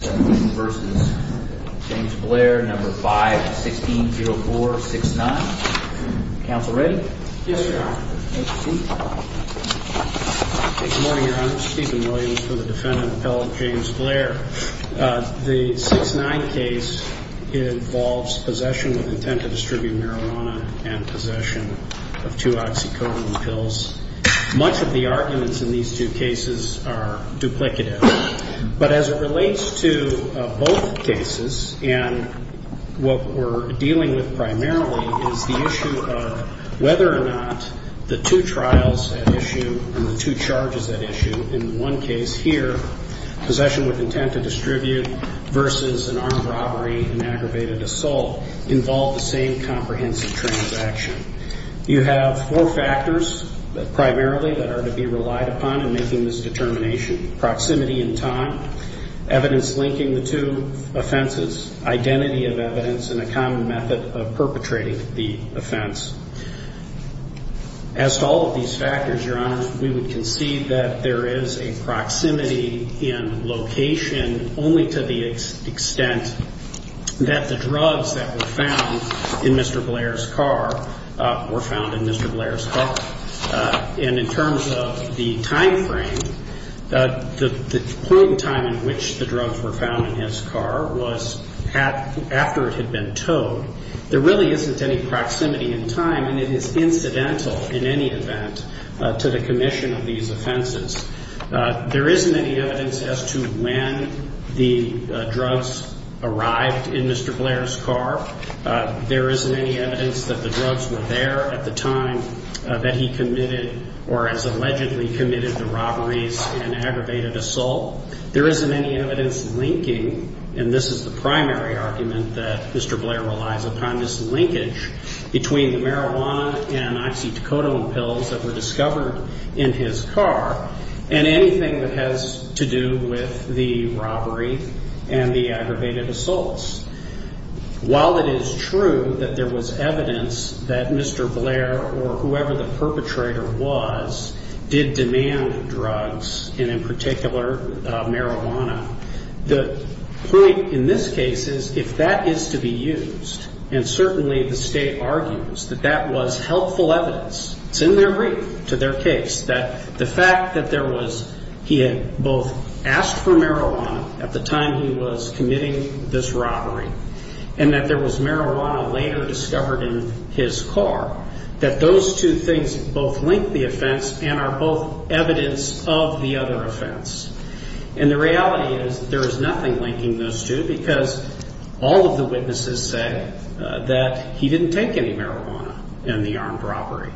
v. James Blair, No. 5, 160469. Counsel ready? Yes, Your Honor. Thank you. Good morning, Your Honor. Stephen Williams for the defendant, appellate James Blair. The 6-9 case involves possession with intent to distribute marijuana and possession of two oxycodone pills. Much of the cases and what we're dealing with primarily is the issue of whether or not the two trials at issue and the two charges at issue, in one case here, possession with intent to distribute versus an armed robbery and aggravated assault involve the same comprehensive transaction. You have four factors primarily that are to be relied upon in making this determination. Proximity in time, evidence linking the two offenses, identity of evidence, and a common method of perpetrating the offense. As to all of these factors, Your Honor, we would concede that there is a proximity in location only to the extent that the drugs that were found in Mr. Blair's car were found in Mr. Blair's car. And in terms of the time frame, the point in time in which the drugs were found in his car was after it had been towed. There really isn't any proximity in time, and it is incidental in any event to the commission of these offenses. There isn't any evidence as to when the drugs arrived in Mr. Blair's car. There isn't any evidence that the drugs were there at the time that he committed or has allegedly committed the robberies and aggravated assault. There isn't any evidence linking, and this is the primary argument that Mr. Blair relies upon, this linkage between the robbery and the aggravated assaults. While it is true that there was evidence that Mr. Blair or whoever the perpetrator was did demand drugs, and in particular marijuana, the point in this case is if that is to be used, and certainly the State argues that that was helpful evidence, it's in their brief to their case, that the fact that there was evidence that both asked for marijuana at the time he was committing this robbery and that there was marijuana later discovered in his car, that those two things both link the offense and are both evidence of the other offense. And the reality is there is nothing linking those two because all of the witnesses say that he didn't take any marijuana in the armed robbery.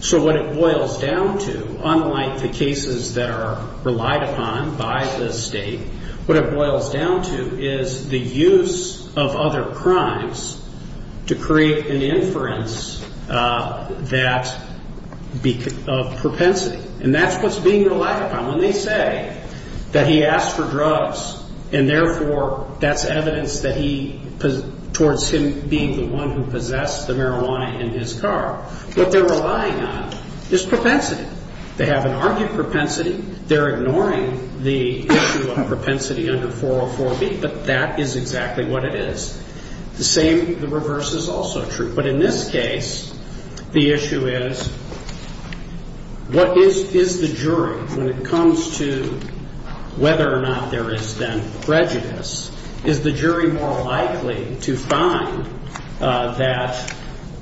So what it boils down to, unlike the cases that are relied upon by the State, what it boils down to is the use of other crimes to create an opportunity for the perpetrator to use marijuana in his car. What they're relying on is propensity. They haven't argued propensity. They're ignoring the issue of propensity under 404B, but that is exactly what it is. The same, the reverse is also true. But in this case, the issue is what is the jury when it comes to whether or not there is then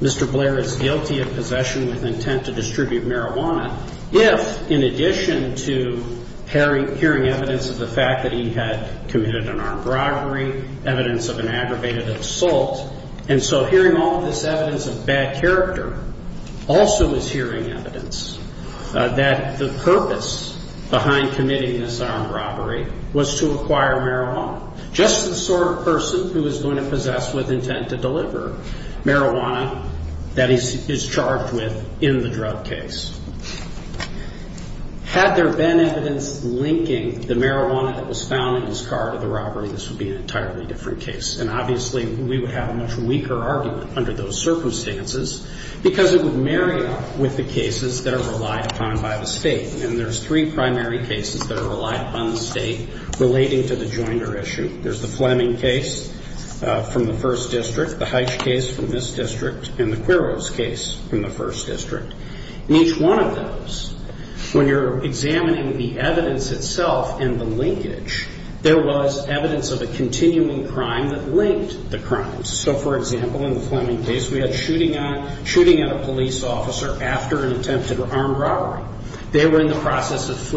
Mr. Blair is guilty of possession with intent to distribute marijuana if, in addition to hearing evidence of the fact that he had committed an armed robbery, evidence of an aggravated assault, and so hearing all of this evidence of bad character also is hearing evidence that the purpose behind committing this armed robbery was to acquire marijuana. Just the sort of person who is going to possess with intent to deliver marijuana that he's charged with in the drug case. Had there been evidence linking the marijuana that was found in his car to the robbery, this would be an entirely different case. And obviously, we would have a much weaker argument under those circumstances because it would marry up with the cases that are relied upon by the State. And there's three primary cases that are relied upon by the State relating to the Joinder issue. There's the Fleming case from the 1st District, the Heitch case from this district, and the Quiros case from the 1st District. In each one of those, when you're examining the evidence itself and the linkage, there was evidence of a continuing crime that linked the crimes. So, for example, in the Fleming case, we had shooting at a police officer after an attempted armed robbery. Police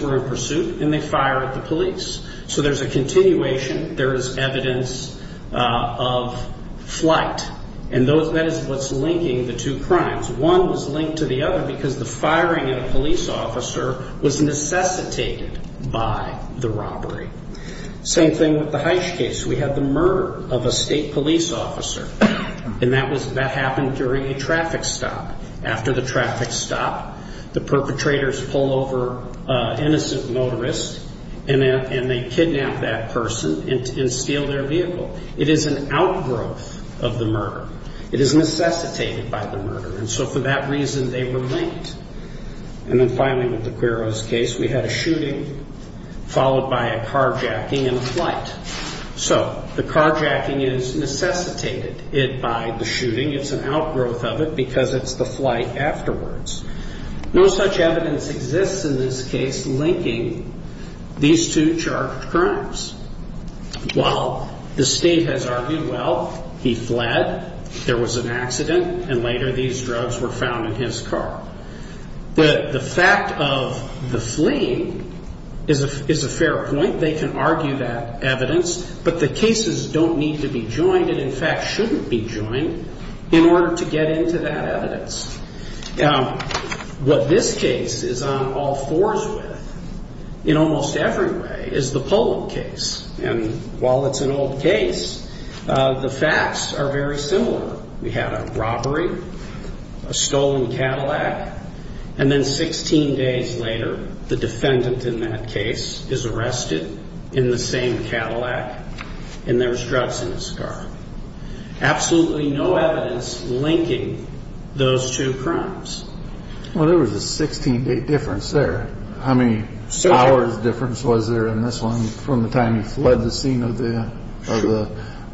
were in pursuit, and they fired at the police. So there's a continuation. There is evidence of flight. And that is what's linking the two crimes. One was linked to the other because the firing at a police officer was necessitated by the robbery. Same thing with the Heitch case. We had the murder of a State police officer. And that happened during a traffic stop. After the traffic stop, the perpetrators pull over an innocent motorist, and they kidnap that person and steal their vehicle. It is an outgrowth of the murder. It is necessitated by the murder. And so for that reason, they were linked. And then finally, with the Quiros case, we had a shooting followed by a car robbery. And that is what's linking the two crimes. So, the car jacking is necessitated by the shooting. It's an outgrowth of it because it's the flight afterwards. No such evidence exists in this case linking these two charged crimes. While the State has argued, well, he fled, there was an accident, and later these drugs were found in his car. But the fact of the Fleming is a fair point. They can argue that evidence, but the cases don't need to be joined and, in fact, shouldn't be joined in order to get into that evidence. What this case is on all fours with, in almost every way, is the Poland case. And while it's an old case, the facts are very similar. We had a robbery, a stolen Cadillac, and then 16 days later, the defendant in that case is arrested in the same Cadillac, and there's drugs in his car. Absolutely no evidence linking those two crimes. Well, there was a 16-day difference there. How many hours difference was there in this one from the time he fled the scene of the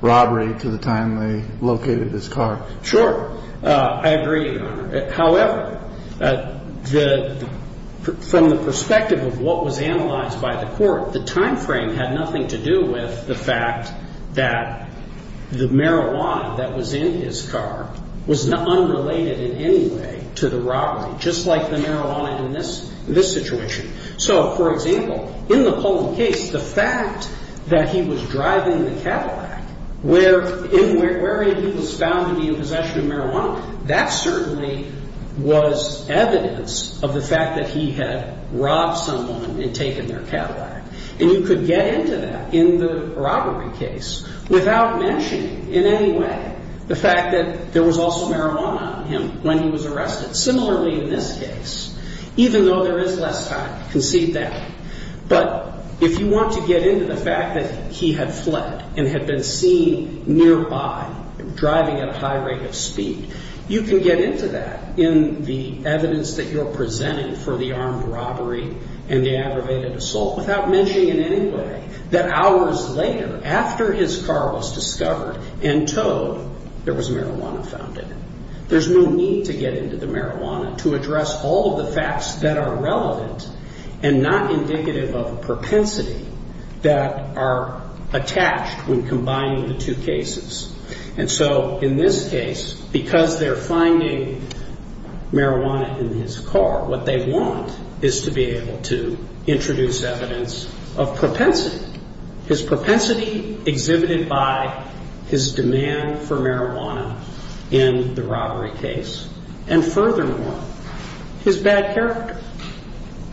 robbery to the time they located his car? Sure. I agree, Your Honor. However, from the perspective of what was analyzed by the court, the time frame had nothing to do with the fact that the marijuana that was in his car was unrelated in any way to the robbery, just like the marijuana in this situation. So, for example, in the Poland case, the fact that he was driving the Cadillac where he was found to be in possession of marijuana, that certainly was evidence of the fact that he had robbed someone and taken their Cadillac. And you could get into that in the robbery case without mentioning in any way the fact that there was also marijuana on him when he was arrested. Similarly, in this case, even though there is less time, concede that. But if you want to get into the fact that he had fled and had been seen nearby driving at a high rate of speed, you can get into that in the evidence that you're presenting for the armed robbery and the aggravated assault without mentioning in any way that hours later, after his car was discovered and towed, there was marijuana found in it. There's no need to get into the marijuana to address all of the facts that are relevant and not indicative of propensity that are attached when combining the two cases. And so, in this case, because they're finding marijuana in his car, what they want is to be able to introduce evidence of propensity, his propensity exhibited by his demand for marijuana in the robbery case. And furthermore, his bad character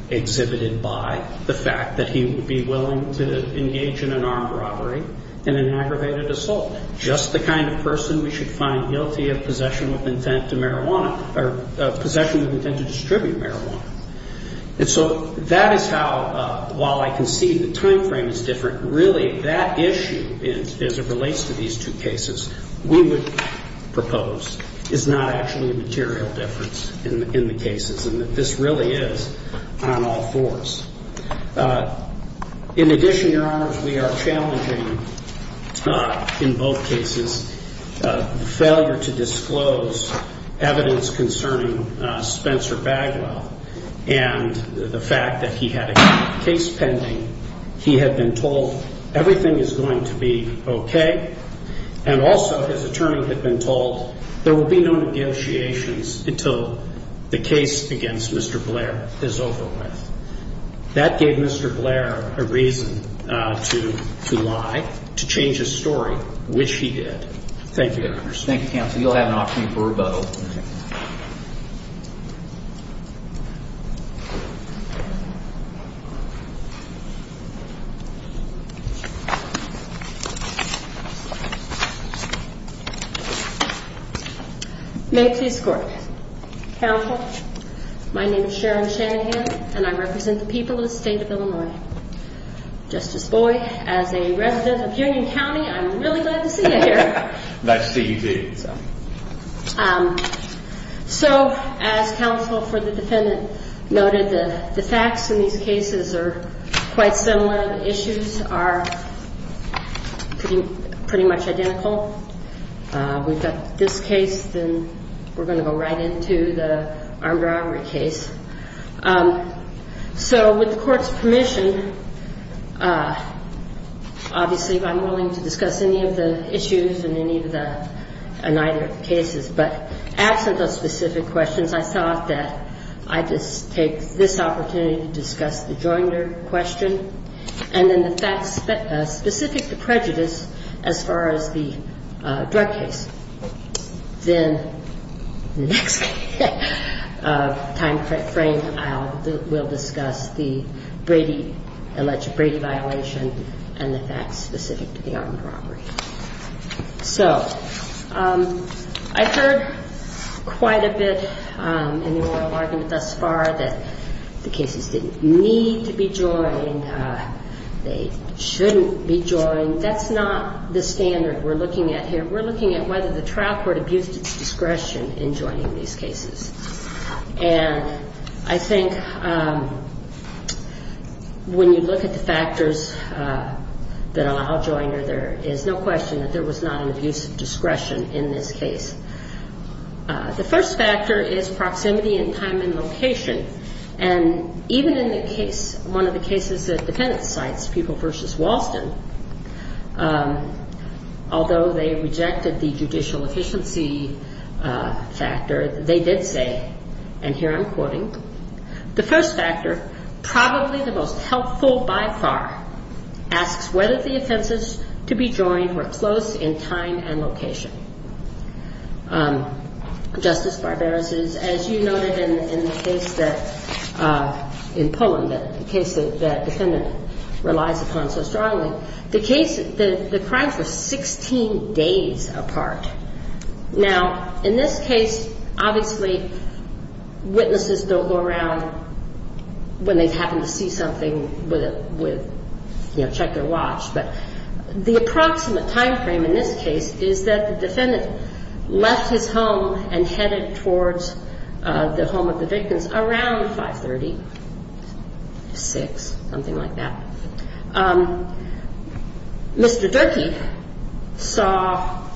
exhibited by the fact that he would be willing to engage in an armed robbery and an aggravated assault, just the kind of person we should find guilty of possession with intent to marijuana or possession with intent to distribute marijuana. And so that is how, while I concede the timeframe is different, really that issue, as it relates to these two cases, we would propose is not actually a material difference in the cases and that this really is on all fours. In addition, Your Honors, we are challenging, in both cases, failure to disclose evidence concerning Spencer Bagwell and the fact that he had a case pending. He had been told everything is going to be okay. And also, his attorney had been told there will be no negotiations until the case against Mr. Blair is over with. That gave Mr. Blair a reason to lie, to change his story, which he did. Thank you, Your Honors. Thank you, Counsel. You'll have an opportunity for rebuttal. May it please the Court. Counsel, my name is Sharon Shanahan and I represent the people of the state of Illinois. Just as a boy, as a resident of Union County, I'm really glad to see you here. So, as counsel for the defendant noted, the facts in these cases are quite similar. The issues are pretty much identical. We've got this case, then we're going to go right into the armed robbery case. So, with the Court's permission, obviously, I'm willing to discuss any of the issues in any of the — in either of the cases. But absent those specific questions, I thought that I'd just take this opportunity to discuss the Joinder question and then the facts specific to prejudice as far as the drug case. Then in the next timeframe, we'll discuss the Brady — alleged Brady violation and the facts specific to the armed robbery. So, I've heard quite a bit in the oral argument thus far that the cases didn't need to be joined. They shouldn't be joined. That's not the standard we're looking at here. We're looking at whether the trial court abused its discretion in joining these cases. And I think when you look at the factors that allow Joinder, there is no question that there was not an abuse of discretion in this case. The first factor is proximity in time and location. And even in the case — one of the cases that defendants cites, Pupil v. Walston, although they rejected the judicial efficiency factor, they did say, and here I'm quoting, the first factor, probably the most helpful by far, asks whether the offenses to be joined were close in time and location. Justice Barberos, as you noted in the case that — in Pullen, the case that defendant relies upon so strongly, the case — the crimes were 16 days apart. Now, in this case, obviously, witnesses don't go around when they happen to see something with — you know, check their watch. But the approximate timeframe in this case is that the defendant left his home and headed towards the home of the victims around 530 to 6, something like that. Mr. Durkee saw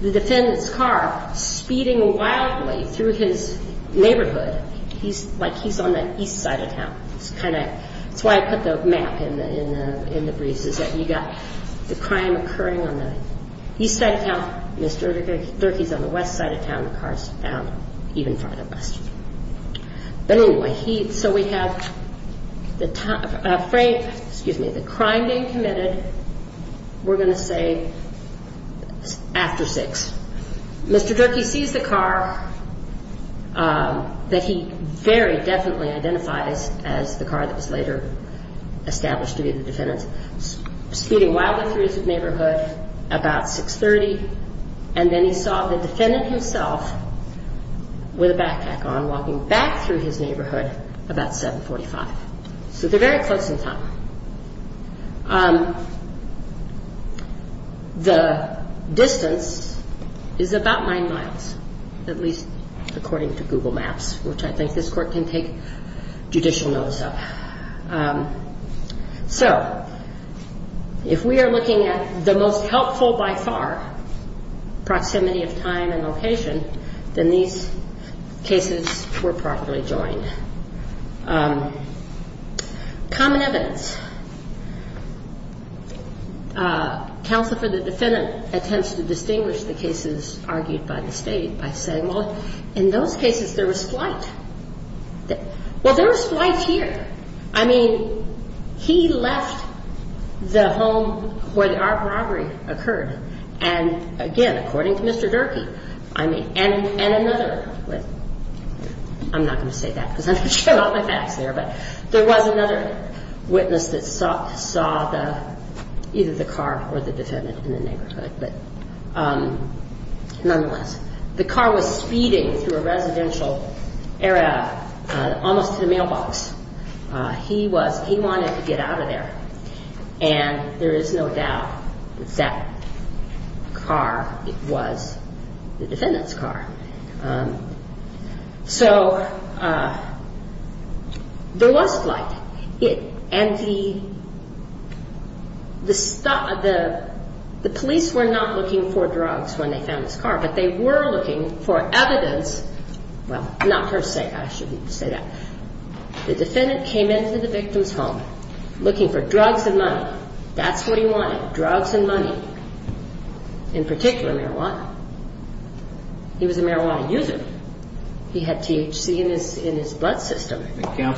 the defendant's car speeding wildly through his neighborhood. He's — like, he's on the east side of town. It's kind of — that's why I put the map in the briefs, is that you got the crime occurring on the east side of town, Mr. Durkee's on the west side of town, the car's down even farther west. But anyway, he — so we have the — excuse me, the crime being committed, we're going to say after 6. Mr. Durkee sees the car that he very definitely identifies as the car that was later established to be the defendant's, speeding wildly through his neighborhood about 6.30, and then he saw the defendant himself with a backpack on walking back through his neighborhood about 7.45. So they're very close in time. The distance is about nine miles, at least according to Google Maps, which I think this court can take judicial notice of. So if we are looking at the most helpful by far, proximity of time and location, then these cases were properly joined. Common evidence. Counsel for the defendant attempts to distinguish the cases argued by the state by saying, well, in those cases there was flight. Well, there was flight here. I mean, he left the home where the robbery occurred. And again, according to Mr. Durkee, I mean, and another — I'm not going to say that because I'm going to show off my facts there, but there was another witness that saw either the car or the defendant in the neighborhood. But nonetheless, the car was speeding through a residential area, almost to the mailbox. He was — he wanted to get out of there. And there is no doubt that that car was the defendant's car. So there was flight. And the police were not looking for drugs when they found this car, but they were looking for evidence — well, not per se. I shouldn't say that. The defendant came into the victim's home looking for drugs and money. That's what he wanted, drugs and money, in particular marijuana. He was a marijuana user. He had THC in his blood system. I don't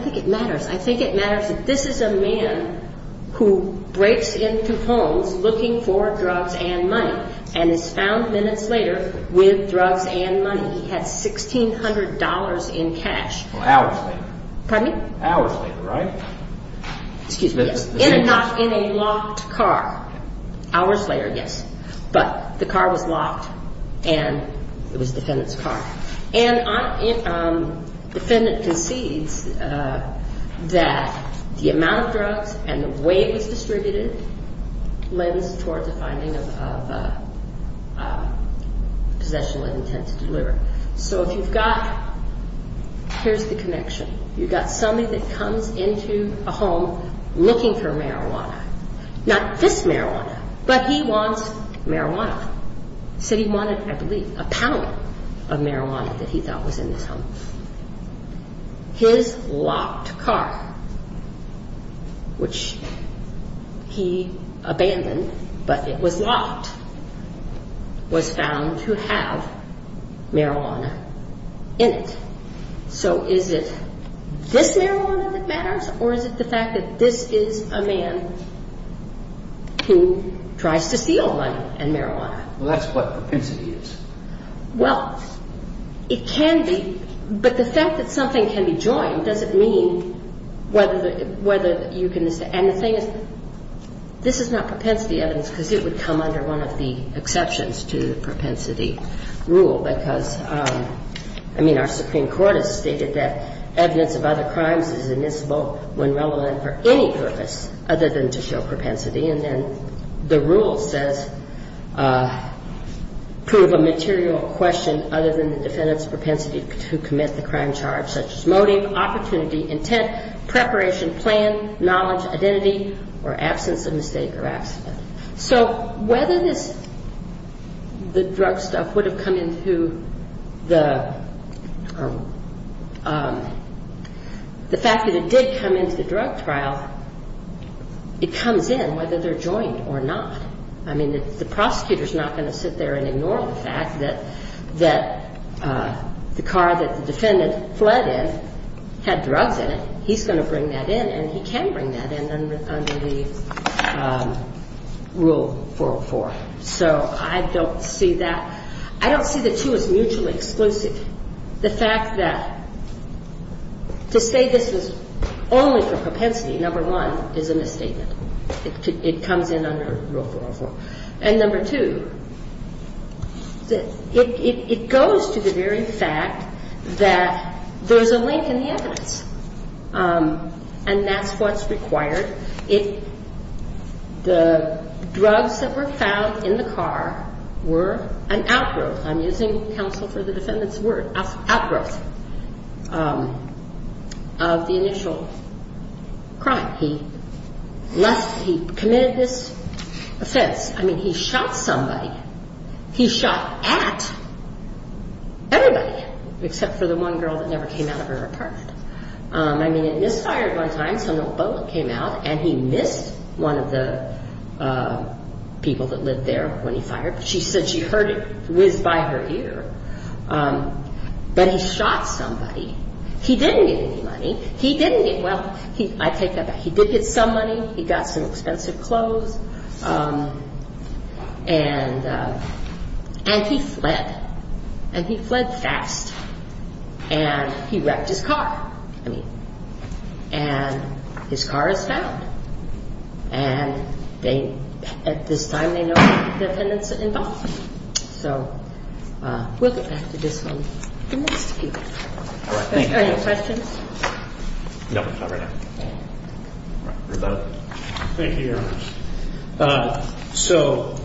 think it matters. I think it matters that this is a man who breaks into homes looking for drugs and money and is found minutes later with drugs and money. He had $1,600 in cash — Well, hours later. Pardon me? Hours later, right? In a locked car. Hours later, yes. But the car was locked and it was the defendant's car. And the defendant concedes that the amount of drugs and the way it was distributed lends toward the finding of possession with intent to deliver. So if you've got — here's the connection. You've got somebody that comes into a home looking for marijuana, not this marijuana, but he wants marijuana. He said he wanted, I believe, a pound of marijuana that he thought was in this home. His locked car, which he abandoned, but it was locked, was found to have marijuana in it. So is it this marijuana that matters, or is it the fact that this is a man who tries to steal money and marijuana? Well, that's what propensity is. Well, it can be, but the fact that something can be joined doesn't mean whether you can — and the thing is, this is not propensity evidence, because it would come under one of the exceptions to the propensity rule, because, I mean, our Supreme Court has stated that evidence of other crimes is inadmissible when relevant for any purpose other than to show propensity. And then the rule says prove a material question other than the defendant's propensity to commit the crime charge, such as motive, opportunity, intent, preparation, plan, knowledge, identity, or absence of mistake or accident. So whether this — the drug stuff would have come into the — the fact that it did come into the drug trial, it comes in whether they're joined or not. I mean, the prosecutor's not going to sit there and ignore the fact that the car that the defendant fled in had drugs in it. He's going to bring that in, and he can bring that in under the Rule 404. So I don't see that — I don't see the two as mutually exclusive. The fact that to say this was only for propensity, number one, is a misstatement. It comes in under Rule 404. And number two, it goes to the very fact that there's a link in the evidence, and that's what's required. The drugs that were found in the car were an outgrowth. I'm using counsel for the defendant's word, outgrowth of the initial crime. He committed this offense. I mean, he shot somebody. He shot at everybody, except for the one girl that never came out of her apartment. I mean, it misfired one time, so an old boat came out, and he missed one of the people that lived there when he fired. She said she heard it whiz by her ear, but he shot somebody. He didn't get any money. He didn't get — well, I take that back. He did get some money. He got some expensive clothes. And he fled, and he fled fast, and he wrecked his car. I mean, and his car is found. And they — at this time, they know the defendant's involvement. So we'll get back to this one in the next few minutes. Are there any questions? No, not right now. Thank you, Your Honor. So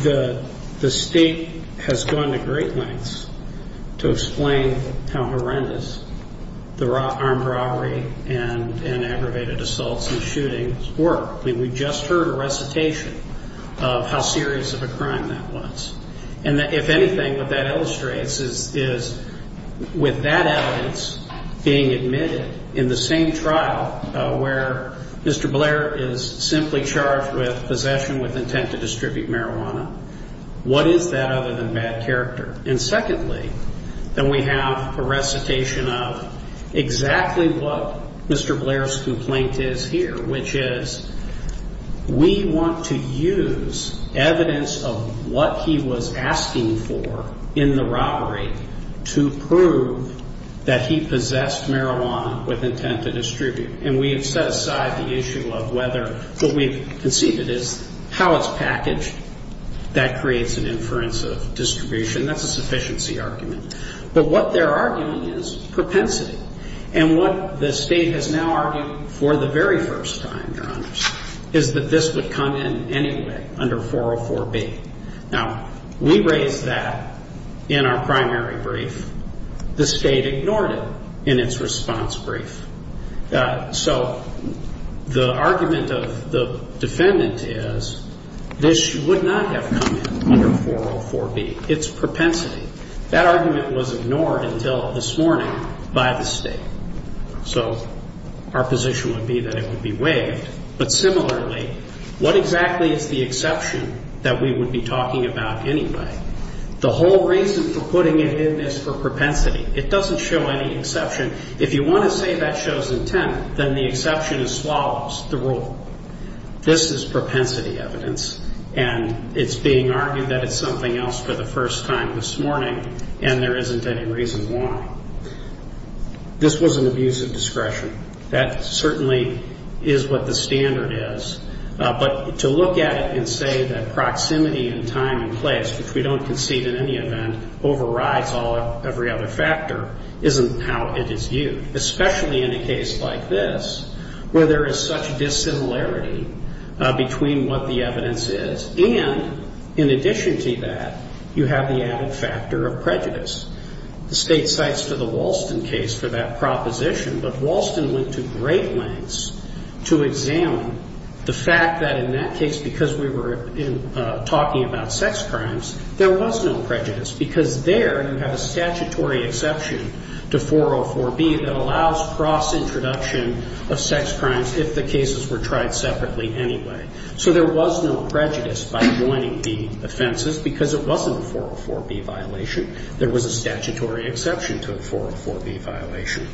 the State has gone to great lengths to explain how horrendous the armed robbery and aggravated assaults and shootings were. I mean, we just heard a recitation of how serious of a crime that was. And if anything, what that illustrates is with that evidence being admitted in the same trial where Mr. Blair is simply charged with possession with intent to distribute marijuana, what is that other than bad character? And secondly, then we have a recitation of exactly what Mr. Blair's complaint is here, which is we want to use evidence of what he was involved in. What he was asking for in the robbery to prove that he possessed marijuana with intent to distribute. And we have set aside the issue of whether — what we've conceded is how it's packaged. That creates an inference of distribution. That's a sufficiency argument. But what they're arguing is propensity. And what the State has now argued for the very first time, Your Honor, is that this would come in anyway under 404B. Now, we raised that in our primary brief. The State ignored it in its response brief. So the argument of the defendant is this would not have come in under 404B, its propensity. That argument was ignored until this morning by the State. So our position would be that it would be waived. But similarly, what exactly is the exception that we would be talking about anyway? The whole reason for putting it in is for propensity. It doesn't show any exception. If you want to say that shows intent, then the exception is swallows, the rule. This is propensity evidence, and it's being argued that it's something else for the first time this morning, and there isn't any reason why. This was an abuse of discretion. That certainly is what the standard is. But to look at it and say that proximity and time and place, which we don't concede in any event, overrides every other factor isn't how it is used, especially in a case like this, where there is such dissimilarity between what the evidence is. And in addition to that, you have the added factor of prejudice. The State cites to the Walston case for that proposition, but Walston went to great lengths to examine the fact that in that case, because we were talking about sex crimes, there was no prejudice, because there you have a statutory exception to 404B that allows cross-introduction of sex crimes if the cases were tried separately anyway. So there was no prejudice by joining the offenses, because it wasn't a 404B violation. There was a statutory exception to a 404B violation.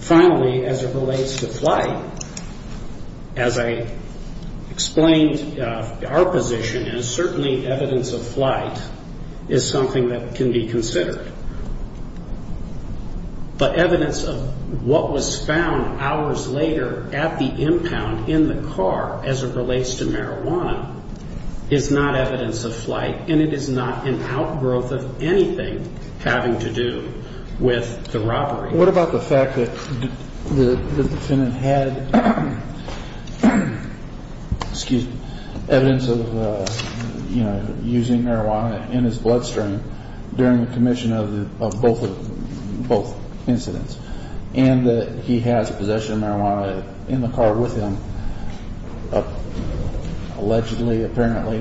Finally, as it relates to flight, as I explained, our position is certainly evidence of flight is something that can be considered. But evidence of what was found hours later at the impound in the car as it relates to marijuana is not evidence of flight, and it is not an outgrowth of anything having to do with the robbery. What about the fact that the defendant had evidence of using marijuana in his bloodstream during the commission of both incidents, and that he has possession of marijuana in the car with him allegedly, apparently,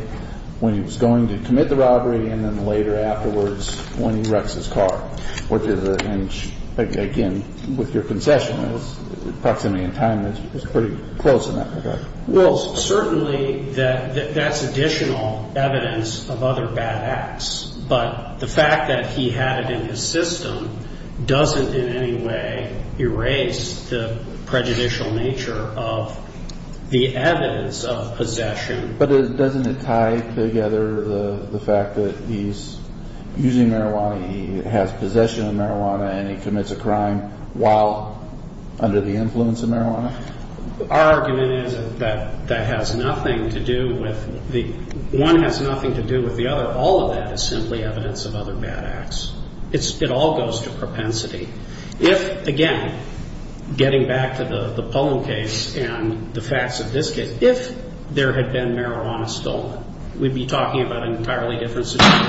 when he was going to commit the robbery, and then later afterwards when he wrecks his car? And again, with your concession, the proximity in time is pretty close in that regard. Well, certainly that's additional evidence of other bad acts, but the fact that he had it in his system doesn't in any way erase the prejudicial nature of the evidence that he had in his system as evidence of possession. But doesn't it tie together the fact that he's using marijuana, he has possession of marijuana, and he commits a crime while under the influence of marijuana? Our argument is that that has nothing to do with the one has nothing to do with the other. All of that is simply evidence of other bad acts. It all goes to propensity. If, again, getting back to the Pullum case and the facts of this case, if there had been marijuana stolen, we'd be talking about an entirely different situation,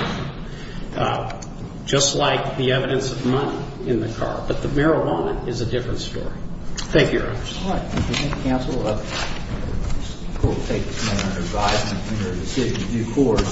just like the evidence of money in the car. But the marijuana is a different story.